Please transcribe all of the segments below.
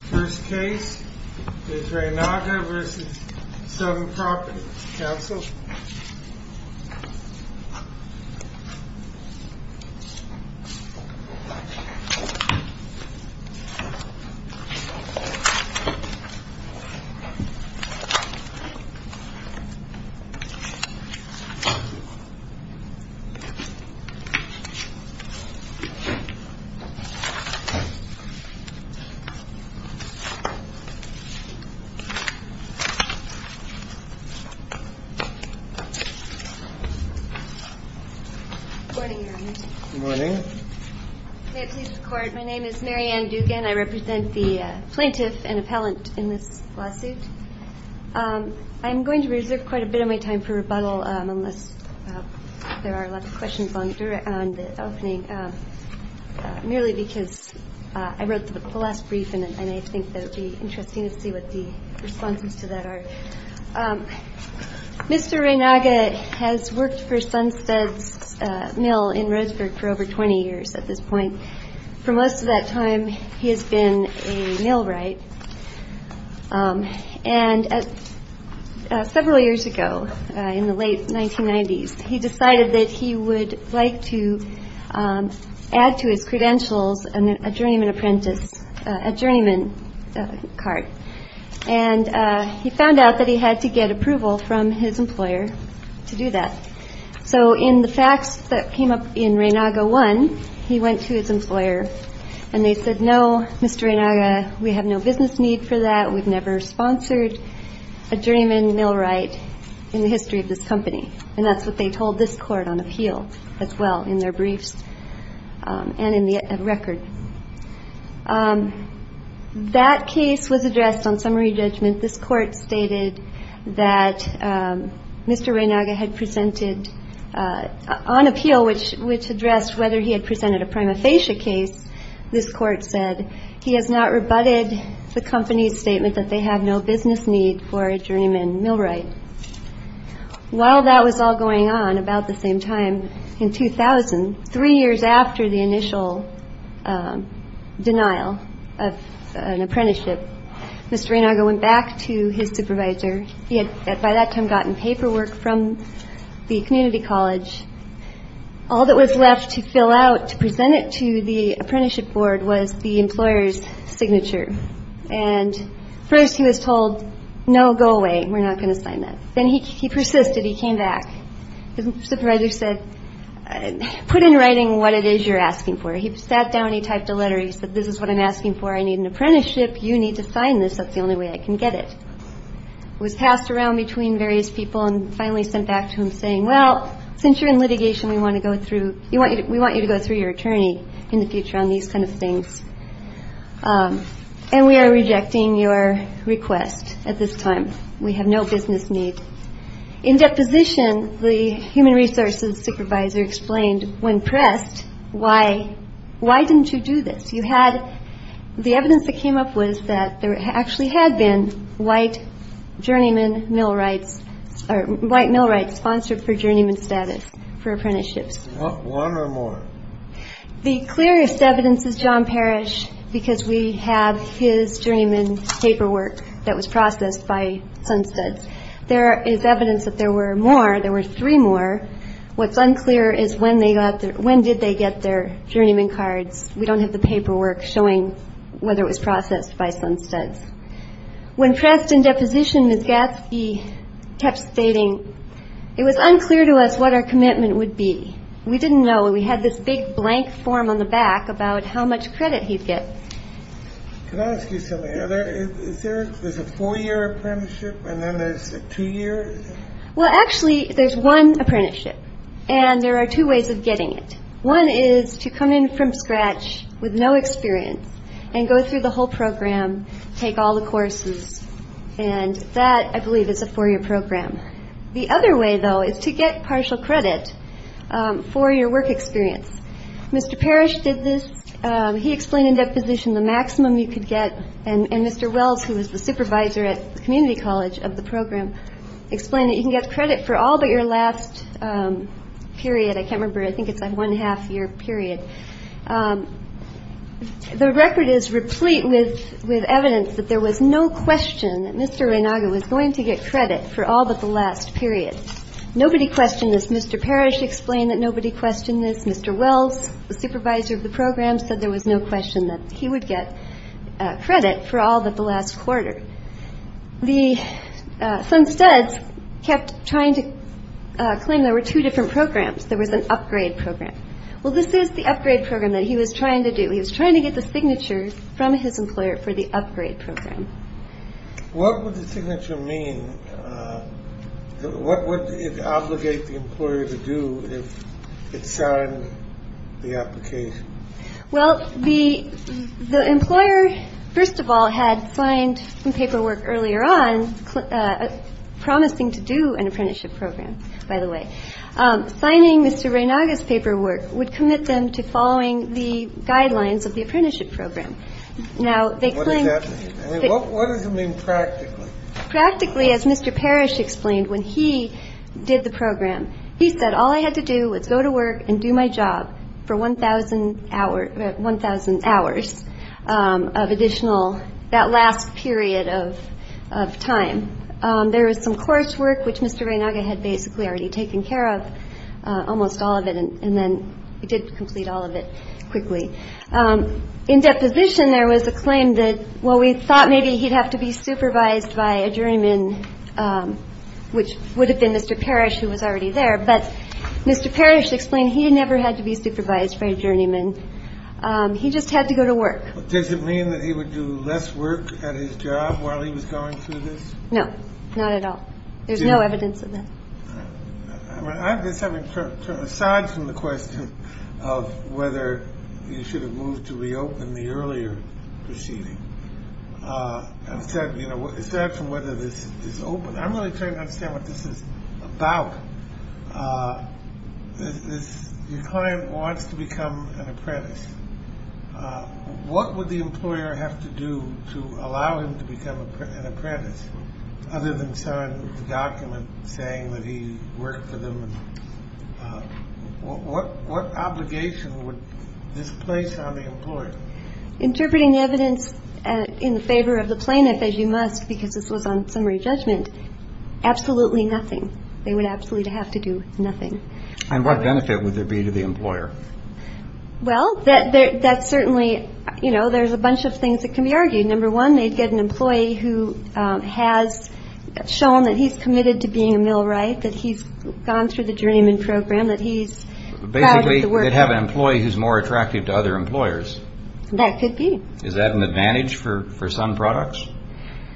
First case is Reynaga v. Sun Properties NW, Inc. Good morning, Your Honor. Good morning. May it please the Court, my name is Mary Ann Dugan, I represent the plaintiff and appellant in this lawsuit. I'm going to reserve quite a bit of my time for rebuttal unless there are a lot of questions on the opening, merely because I wrote the last brief and I think it would be interesting to see what the responses to that are. Mr. Reynaga has worked for Sunstead's Mill in Roseburg for over 20 years at this point. For most of that time he has been a millwright. And several years ago, in the late 1990s, he decided that he would like to add to his credentials a journeyman apprentice, a journeyman cart. And he found out that he had to get approval from his employer to do that. So in the facts that came up in Reynaga 1, he went to his employer and they said, no, Mr. Reynaga, we have no business need for that, we've never sponsored a journeyman millwright in the history of this company. And that's what they told this Court on appeal as well in their briefs and in the record. That case was addressed on summary judgment. This Court stated that Mr. Reynaga had presented on appeal, which addressed whether he had presented a prima facie case. This Court said he has not rebutted the company's statement that they have no business need for a journeyman millwright. While that was all going on, about the same time, in 2000, three years after the initial denial of an apprenticeship, Mr. Reynaga went back to his supervisor. He had by that time gotten paperwork from the community college. All that was left to fill out to present it to the apprenticeship board was the employer's signature. And first he was told, no, go away, we're not going to sign that. Then he persisted. He came back. His supervisor said, put in writing what it is you're asking for. He sat down. He typed a letter. He said, this is what I'm asking for. I need an apprenticeship. You need to sign this. That's the only way I can get it. It was passed around between various people and finally sent back to him saying, well, since you're in litigation, we want you to go through your attorney in the future on these kind of things. And we are rejecting your request at this time. We have no business need. In deposition, the human resources supervisor explained, when pressed, why didn't you do this? The evidence that came up was that there actually had been white journeyman millwrights, or white millwrights sponsored for journeyman status for apprenticeships. One or more? The clearest evidence is John Parrish because we have his journeyman paperwork that was processed by Sunstuds. There is evidence that there were more. There were three more. What's unclear is when they got their, when did they get their journeyman cards. We don't have the paperwork showing whether it was processed by Sunstuds. When pressed in deposition, Ms. Gatzke kept stating, it was unclear to us what our commitment would be. We didn't know. We had this big blank form on the back about how much credit he'd get. Can I ask you something? Are there, is there, there's a four-year apprenticeship and then there's a two-year? Well, actually, there's one apprenticeship, and there are two ways of getting it. One is to come in from scratch with no experience and go through the whole program, take all the courses. And that, I believe, is a four-year program. The other way, though, is to get partial credit for your work experience. Mr. Parrish did this. He explained in deposition the maximum you could get. And Mr. Wells, who was the supervisor at the community college of the program, explained that you can get credit for all but your last period. I can't remember. I think it's a one-half-year period. The record is replete with evidence that there was no question that Mr. Renaga was going to get credit for all but the last period. Nobody questioned this. Mr. Parrish explained that nobody questioned this. Mr. Wells, the supervisor of the program, said there was no question that he would get credit for all but the last quarter. The Sunstuds kept trying to claim there were two different programs. There was an upgrade program. Well, this is the upgrade program that he was trying to do. He was trying to get the signature from his employer for the upgrade program. What would the signature mean? What would it obligate the employer to do if it signed the application? Well, the employer, first of all, had signed some paperwork earlier on promising to do an apprenticeship program, by the way. Signing Mr. Renaga's paperwork would commit them to following the guidelines of the apprenticeship program. Now, they claimed- What does that mean? What does it mean practically? Practically, as Mr. Parrish explained, when he did the program, he said, all I had to do was go to work and do my job for 1,000 hours of additional, that last period of time. There was some coursework, which Mr. Renaga had basically already taken care of, almost all of it. And then he did complete all of it quickly. In deposition, there was a claim that, well, we thought maybe he'd have to be supervised by a journeyman, which would have been Mr. Parrish, who was already there. But Mr. Parrish explained he never had to be supervised by a journeyman. He just had to go to work. Does it mean that he would do less work at his job while he was going through this? No, not at all. There's no evidence of that. I guess having turned aside from the question of whether you should have moved to reopen the earlier proceeding, and said, you know, is that from whether this is open? I'm really trying to understand what this is about. Your client wants to become an apprentice. What would the employer have to do to allow him to become an apprentice, other than sign the document saying that he worked for them? What obligation would this place on the employer? Interpreting evidence in favor of the plaintiff, as you must, because this was on summary judgment, absolutely nothing. They would absolutely have to do nothing. And what benefit would there be to the employer? Well, that's certainly, you know, there's a bunch of things that can be argued. Number one, they'd get an employee who has shown that he's committed to being a millwright, that he's gone through the journeyman program, that he's proud of the work. Basically, they'd have an employee who's more attractive to other employers. That could be. Is that an advantage for some products,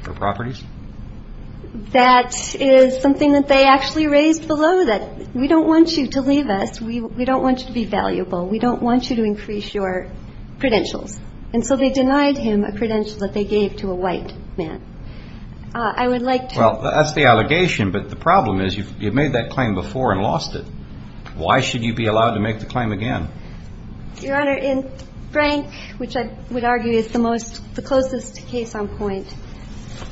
for properties? That is something that they actually raised below, that we don't want you to leave us. We don't want you to be valuable. We don't want you to increase your credentials. And so they denied him a credential that they gave to a white man. I would like to. Well, that's the allegation, but the problem is you've made that claim before and lost it. Why should you be allowed to make the claim again? Your Honor, in Frank, which I would argue is the most, the closest case on point,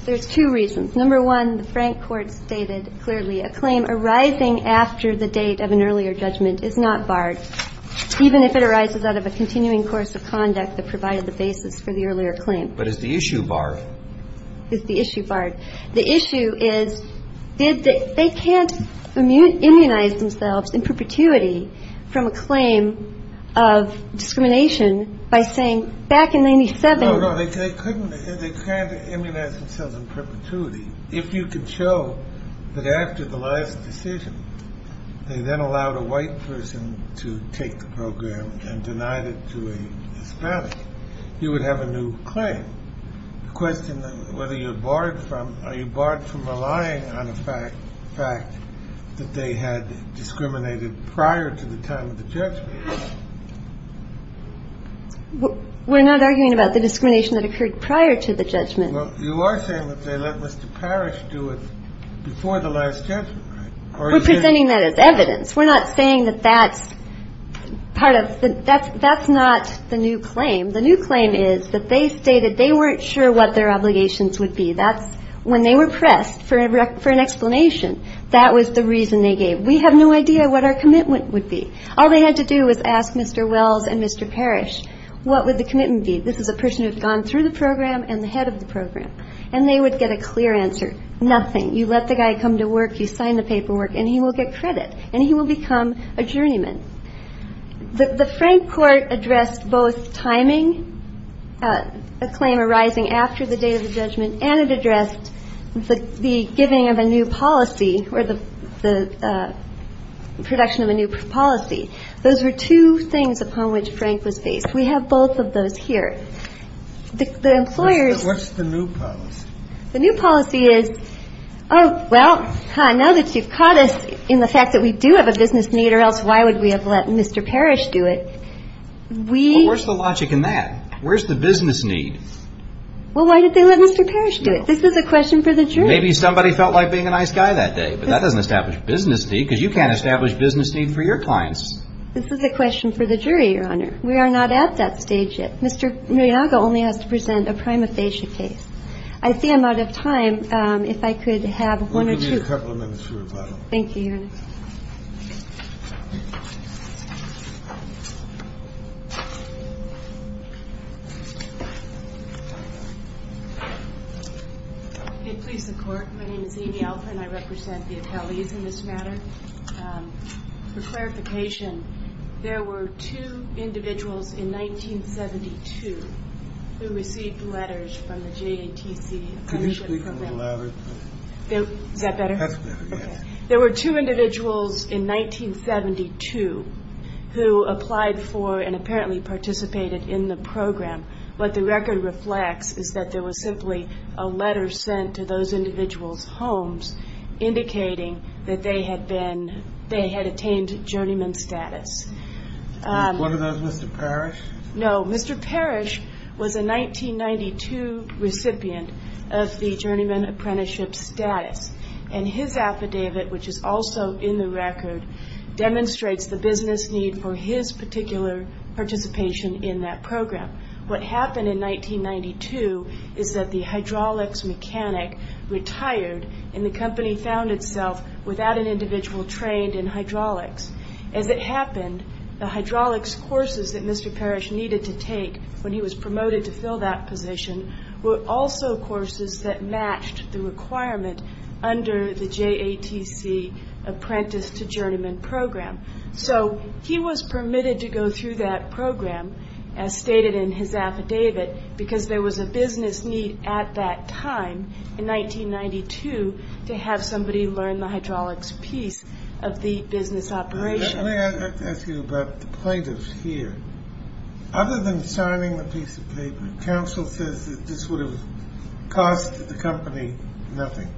there's two reasons. Number one, the Frank court stated clearly a claim arising after the date of an earlier judgment is not barred, even if it arises out of a continuing course of conduct that provided the basis for the earlier claim. But is the issue barred? Is the issue barred? The issue is, did they, they can't immunize themselves in perpetuity from a claim of discrimination by saying back in 97. They can't immunize themselves in perpetuity. If you could show that after the last decision, they then allowed a white person to take the program and denied it to a Hispanic, you would have a new claim. The question, whether you're barred from, are you barred from relying on the fact that they had discriminated prior to the time of the judgment? We're not arguing about the discrimination that occurred prior to the judgment. You are saying that they let Mr. Parrish do it before the last judgment. We're presenting that as evidence. We're not saying that that's part of, that's not the new claim. The new claim is that they stated they weren't sure what their obligations would be. That's when they were pressed for an explanation. That was the reason they gave. We have no idea what our commitment would be. All they had to do was ask Mr. Wells and Mr. Parrish, what would the commitment be? This is a person who had gone through the program and the head of the program. And they would get a clear answer, nothing. You let the guy come to work, you sign the paperwork, and he will get credit. And he will become a journeyman. The Frank court addressed both timing, a claim arising after the date of the judgment, and it addressed the giving of a new policy or the production of a new policy. Those were two things upon which Frank was faced. We have both of those here. The employers ---- What's the new policy? The new policy is, oh, well, now that you've caught us in the fact that we do have a business need, or else why would we have let Mr. Parrish do it, we ---- Well, where's the logic in that? Where's the business need? Well, why did they let Mr. Parrish do it? This is a question for the jury. Maybe somebody felt like being a nice guy that day, but that doesn't establish business need because you can't establish business need for your clients. This is a question for the jury, Your Honor. We are not at that stage yet. Mr. Miyaga only has to present a prima facie case. I see I'm out of time. If I could have one or two ---- We'll give you a couple of minutes for rebuttal. Thank you, Your Honor. If I could please the Court, my name is Amy Alford, and I represent the appellees in this matter. For clarification, there were two individuals in 1972 who received letters from the JATC. Could you speak a little louder? Is that better? That's better, yes. There were two individuals in 1972 who applied for and apparently participated in the program. What the record reflects is that there was simply a letter sent to those individuals' homes indicating that they had attained journeyman status. Was one of those Mr. Parrish? No. Mr. Parrish was a 1992 recipient of the journeyman apprenticeship status, and his affidavit, which is also in the record, demonstrates the business need for his particular participation in that program. What happened in 1992 is that the hydraulics mechanic retired, and the company found itself without an individual trained in hydraulics. As it happened, the hydraulics courses that Mr. Parrish needed to take when he was promoted to fill that position were also courses that matched the requirement under the JATC apprentice to journeyman program. So he was permitted to go through that program, as stated in his affidavit, because there was a business need at that time in 1992 to have somebody learn the hydraulics piece of the business operation. May I ask you about the plaintiffs here? Other than signing the piece of paper, counsel says that this would have cost the company nothing.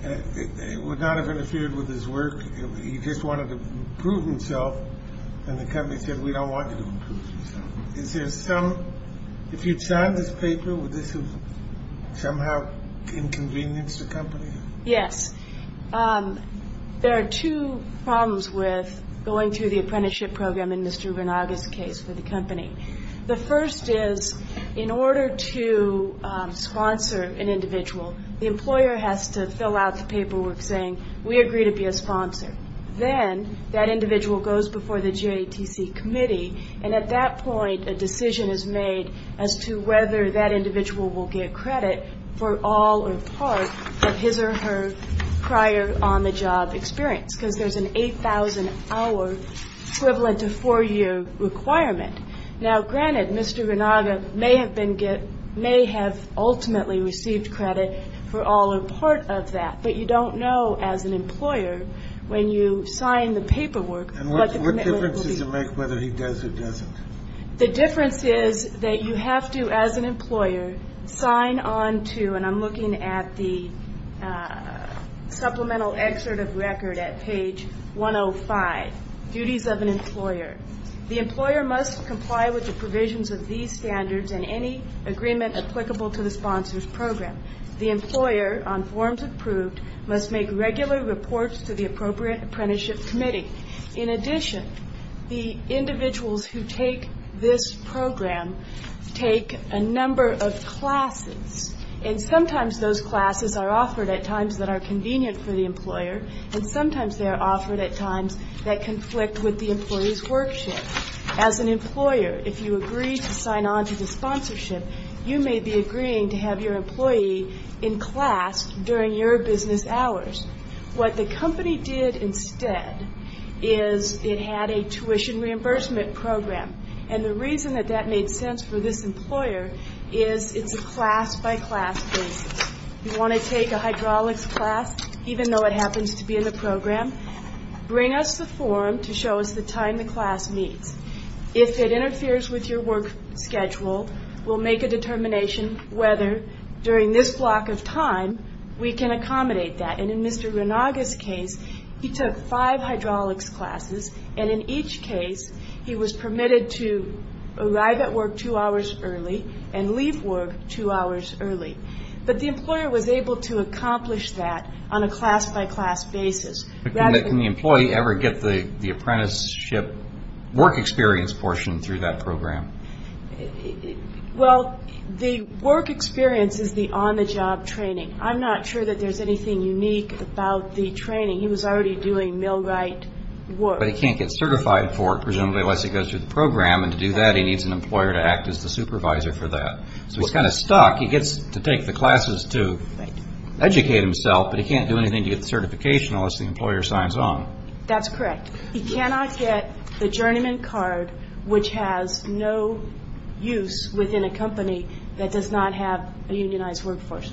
It would not have interfered with his work. He just wanted to prove himself, and the company said, we don't want you to prove yourself. If you'd signed this paper, would this have somehow inconvenienced the company? Yes. There are two problems with going through the apprenticeship program in Mr. Bernaga's case for the company. The first is, in order to sponsor an individual, the employer has to fill out the paperwork saying, we agree to be a sponsor. Then that individual goes before the JATC committee, and at that point a decision is made as to whether that individual will get credit for all or part of his or her prior on-the-job experience, because there's an 8,000-hour equivalent to four-year requirement. Now, granted, Mr. Bernaga may have ultimately received credit for all or part of that, but you don't know as an employer when you sign the paperwork what the commitment will be. And what difference does it make whether he does or doesn't? The difference is that you have to, as an employer, sign on to, and I'm looking at the supplemental excerpt of record at page 105, duties of an employer. The employer must comply with the provisions of these standards and any agreement applicable to the sponsor's program. The employer, on forms approved, must make regular reports to the appropriate apprenticeship committee. In addition, the individuals who take this program take a number of classes, and sometimes those classes are offered at times that are convenient for the employer, and sometimes they are offered at times that conflict with the employee's work shift. As an employer, if you agree to sign on to the sponsorship, you may be agreeing to have your employee in class during your business hours. What the company did instead is it had a tuition reimbursement program, and the reason that that made sense for this employer is it's a class-by-class basis. You want to take a hydraulics class, even though it happens to be in the program, bring us the form to show us the time the class meets. If it interferes with your work schedule, we'll make a determination whether during this block of time we can accommodate that. And in Mr. Ranaga's case, he took five hydraulics classes, and in each case he was permitted to arrive at work two hours early and leave work two hours early. But the employer was able to accomplish that on a class-by-class basis. Can the employee ever get the apprenticeship work experience portion through that program? Well, the work experience is the on-the-job training. I'm not sure that there's anything unique about the training. He was already doing millwright work. But he can't get certified for it, presumably, unless he goes through the program, and to do that he needs an employer to act as the supervisor for that. So he's kind of stuck. He gets to take the classes to educate himself, but he can't do anything to get the certification unless the employer signs on. That's correct. He cannot get the journeyman card, which has no use within a company that does not have a unionized workforce.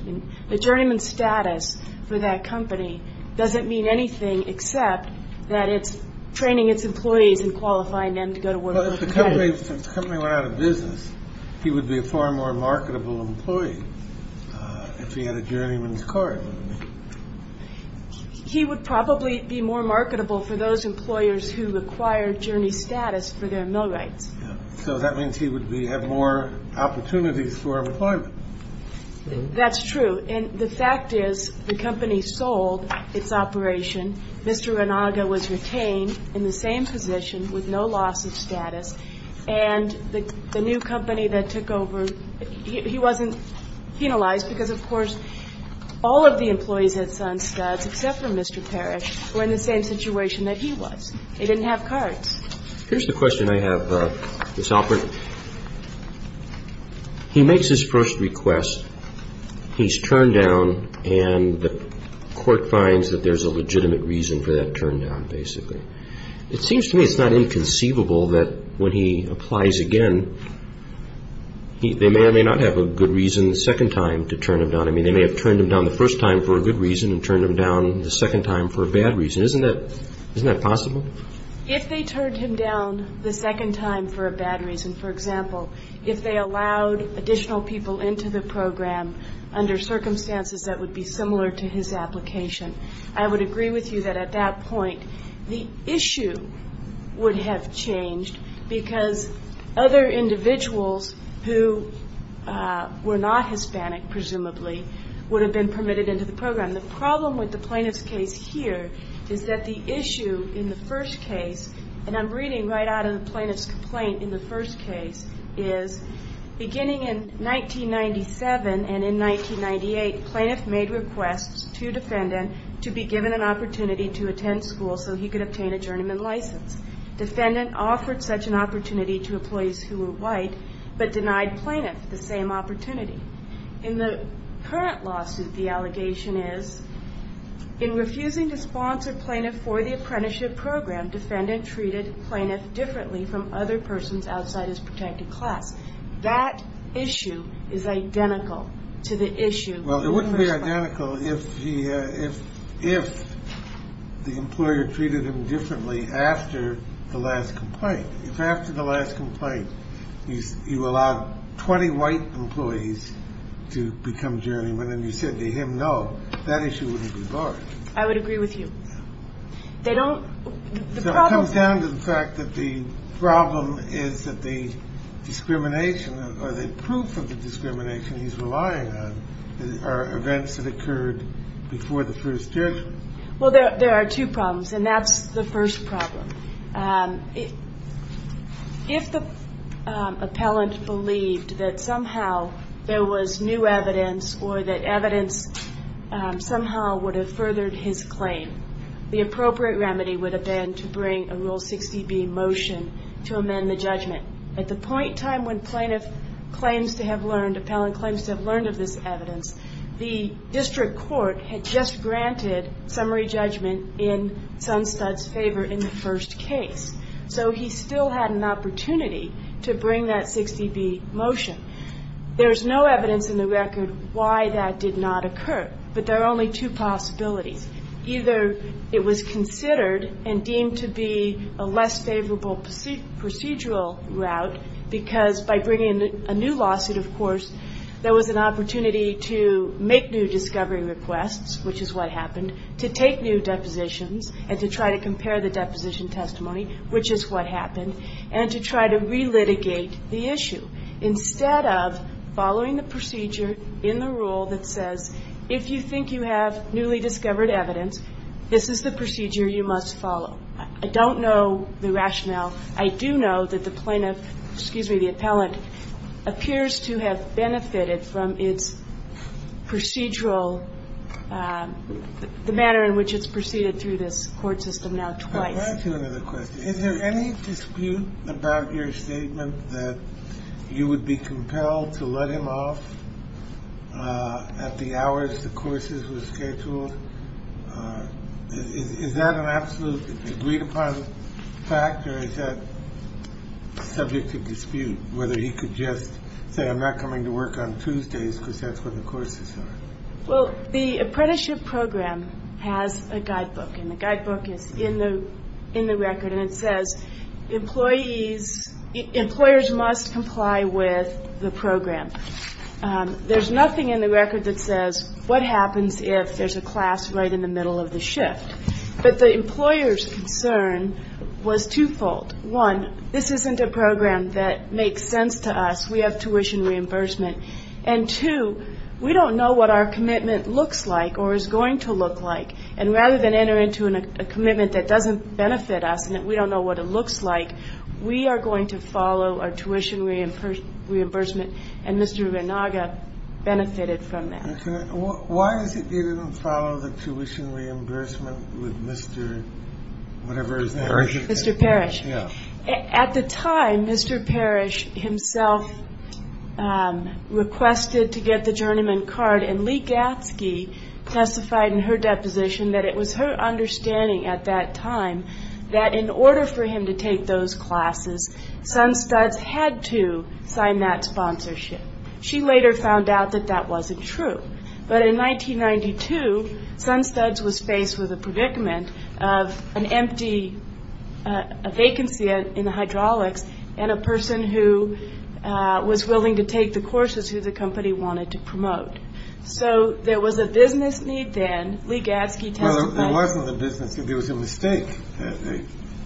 The journeyman status for that company doesn't mean anything except that it's training its employees and qualifying them to go to work. Well, if the company went out of business, he would be a far more marketable employee if he had a journeyman's card. He would probably be more marketable for those employers who acquired journey status for their millwrights. So that means he would have more opportunities for employment. That's true. And the fact is the company sold its operation. Mr. Renaga was retained in the same position with no loss of status. And the new company that took over, he wasn't penalized because, of course, all of the employees at Sun Studs, except for Mr. Parrish, were in the same situation that he was. They didn't have cards. Here's the question I have, Ms. Alpert. He makes his first request. He's turned down, and the court finds that there's a legitimate reason for that turndown, basically. It seems to me it's not inconceivable that when he applies again, they may or may not have a good reason the second time to turn him down. I mean, they may have turned him down the first time for a good reason and turned him down the second time for a bad reason. Isn't that possible? If they turned him down the second time for a bad reason, for example, if they allowed additional people into the program under circumstances that would be similar to his application, I would agree with you that at that point the issue would have changed because other individuals who were not Hispanic, presumably, would have been permitted into the program. The problem with the plaintiff's case here is that the issue in the first case, and I'm reading right out of the plaintiff's complaint in the first case, is beginning in 1997 and in 1998, plaintiff made requests to defendant to be given an opportunity to attend school so he could obtain a journeyman license. Defendant offered such an opportunity to employees who were white, but denied plaintiff the same opportunity. In the current lawsuit, the allegation is, in refusing to sponsor plaintiff for the apprenticeship program, defendant treated plaintiff differently from other persons outside his protected class. That issue is identical to the issue in the first case. Well, it wouldn't be identical if the employer treated him differently after the last complaint. If after the last complaint you allowed 20 white employees to become journeymen and you said to him no, that issue wouldn't be large. I would agree with you. They don't the problem. It comes down to the fact that the problem is that the discrimination or the proof of the discrimination he's relying on are events that occurred before the first judgment. Well, there are two problems, and that's the first problem. If the appellant believed that somehow there was new evidence or that evidence somehow would have furthered his claim, the appropriate remedy would have been to bring a Rule 60B motion to amend the judgment. At the point time when plaintiff claims to have learned, appellant claims to have learned of this evidence, the district court had just granted summary judgment in Sunstud's favor in the first case. So he still had an opportunity to bring that 60B motion. There is no evidence in the record why that did not occur, but there are only two possibilities. Either it was considered and deemed to be a less favorable procedural route because by bringing a new lawsuit, of course, there was an opportunity to make new discovery requests, which is what happened, to take new depositions and to try to compare the deposition testimony, which is what happened, and to try to relitigate the issue. Instead of following the procedure in the rule that says, if you think you have newly discovered evidence, this is the procedure you must follow. I don't know the rationale. I do know that the plaintiff, excuse me, the appellant, appears to have benefited from its procedural, the manner in which it's proceeded through this court system now twice. Can I ask you another question? Is there any dispute about your statement that you would be compelled to let him off at the hours the courses were scheduled? Is that an absolute agreed-upon fact, or is that subject to dispute, whether he could just say I'm not coming to work on Tuesdays because that's when the courses are? Well, the apprenticeship program has a guidebook, and the guidebook is in the record, and it says employees, employers must comply with the program. There's nothing in the record that says what happens if there's a class right in the middle of the shift. But the employer's concern was twofold. One, this isn't a program that makes sense to us. We have tuition reimbursement. And two, we don't know what our commitment looks like or is going to look like, and rather than enter into a commitment that doesn't benefit us and that we don't know what it looks like, we are going to follow our tuition reimbursement, and Mr. Renaga benefited from that. Why is it you didn't follow the tuition reimbursement with Mr. whatever his name was? Parrish. Mr. Parrish. At the time, Mr. Parrish himself requested to get the journeyman card, and Lee Gatzke testified in her deposition that it was her understanding at that time that in order for him to take those classes, Sunstuds had to sign that sponsorship. She later found out that that wasn't true. But in 1992, Sunstuds was faced with a predicament of an empty vacancy in the hydraulics and a person who was willing to take the courses who the company wanted to promote. So there was a business need then. Lee Gatzke testified. There wasn't a business need. There was a mistake.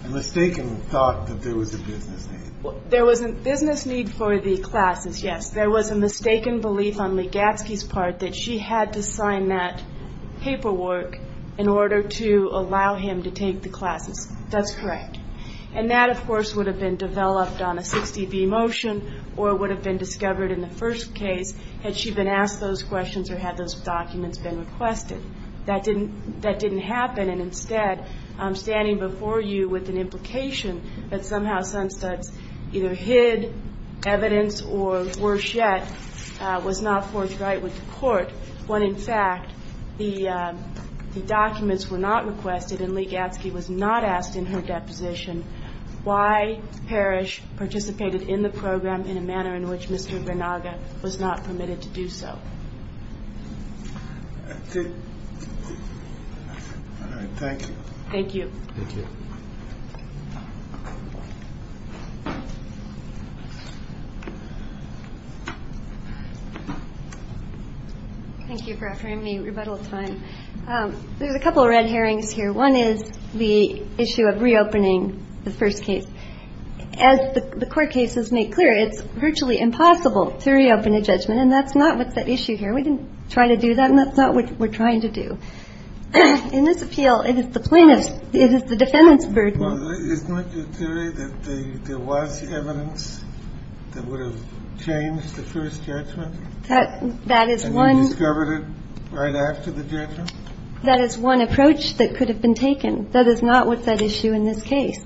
A mistaken thought that there was a business need. There was a business need for the classes, yes. There was a mistaken belief on Lee Gatzke's part that she had to sign that paperwork in order to allow him to take the classes. That's correct. And that, of course, would have been developed on a 60-B motion or would have been discovered in the first case had she been asked those questions or had those documents been requested. That didn't happen, and instead I'm standing before you with an implication that somehow Sunstuds either hid evidence or, worse yet, was not forthright with the court when, in fact, the documents were not requested and Lee Gatzke was not asked in her deposition why Parrish participated in the program in a manner in which Mr. Vernaga was not permitted to do so. All right. Thank you. Thank you. Thank you. Thank you for offering me rebuttal time. There's a couple of red herrings here. One is the issue of reopening the first case. As the court cases make clear, it's virtually impossible to reopen a judgment, and that's not what's at issue here. We didn't try to do that, and that's not what we're trying to do. In this appeal, it is the plaintiff's, it is the defendant's burden. Well, isn't it your theory that there was evidence that would have changed the first judgment? That is one. And you discovered it right after the judgment? That is one approach that could have been taken. That is not what's at issue in this case.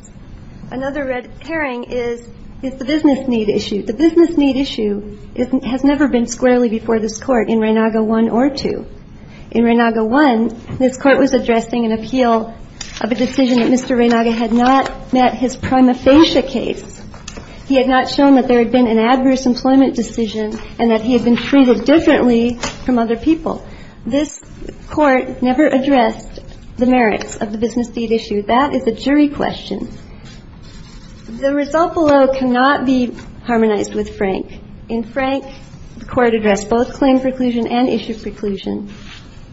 Another red herring is the business need issue. The business need issue has never been squarely before this Court in Reynaga 1 or 2. In Reynaga 1, this Court was addressing an appeal of a decision that Mr. Reynaga had not met his prima facie case. He had not shown that there had been an adverse employment decision and that he had been treated differently from other people. This Court never addressed the merits of the business need issue. That is a jury question. The result below cannot be harmonized with Frank. In Frank, the Court addressed both claim preclusion and issue preclusion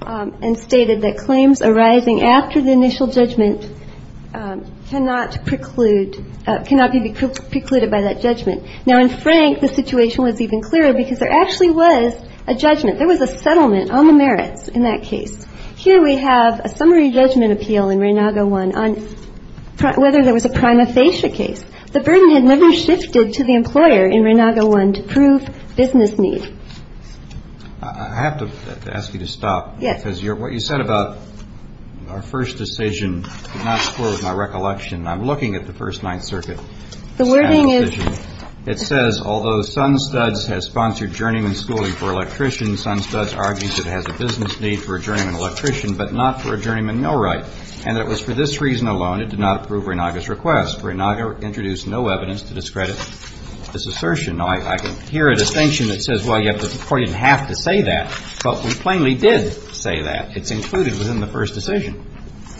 and stated that claims arising after the initial judgment cannot preclude, cannot be precluded by that judgment. Now, in Frank, the situation was even clearer because there actually was a judgment. There was a settlement on the merits in that case. Here we have a summary judgment appeal in Reynaga 1 on whether there was a prima facie case. The burden had never shifted to the employer in Reynaga 1 to prove business need. I have to ask you to stop. Yes. Because what you said about our first decision did not square with my recollection. I'm looking at the First Ninth Circuit. The wording is — It says, although Sunstuds has sponsored journeyman schooling for electricians, Sunstuds argues it has a business need for a journeyman electrician but not for a journeyman millwright, and that it was for this reason alone it did not approve Reynaga's request. Reynaga introduced no evidence to discredit this assertion. Now, I can hear a distinction that says, well, yes, the Court didn't have to say that, but we plainly did say that. It's included within the first decision.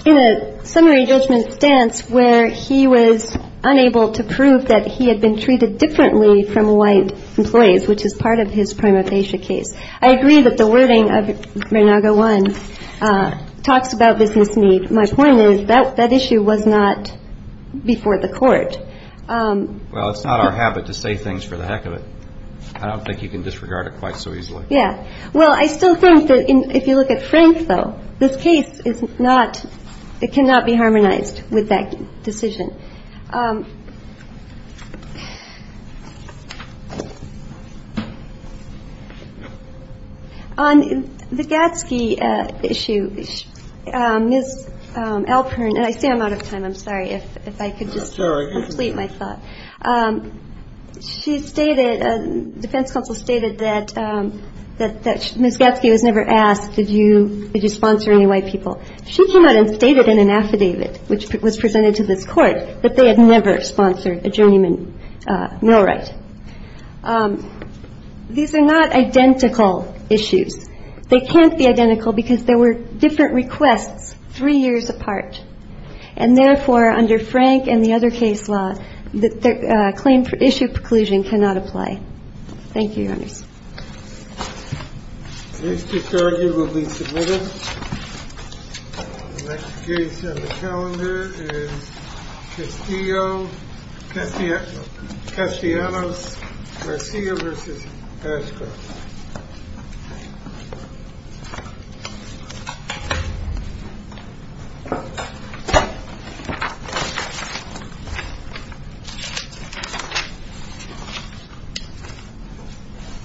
In a summary judgment stance where he was unable to prove that he had been treated differently from white employees, which is part of his prima facie case. I agree that the wording of Reynaga 1 talks about business need. My point is that issue was not before the Court. Well, it's not our habit to say things for the heck of it. I don't think you can disregard it quite so easily. Yeah. Well, I still think that if you look at Frank, though, this case is not, it cannot be harmonized with that decision. On the Gadsky issue, Ms. Alpern, and I say I'm out of time. I'm sorry if I could just complete my thought. She stated, defense counsel stated that Ms. Gadsky was never asked, did you sponsor any white people? She came out and stated in an affidavit, which was presented to this Court, that they had never sponsored a journeyman millwright. These are not identical issues. They can't be identical because there were different requests three years apart. And therefore, under Frank and the other case law, the claim for issue preclusion cannot apply. Thank you, Your Honors. This disarguably submitted. The next case on the calendar is Castillo-Castellanos-Garcia v. Ashcroft.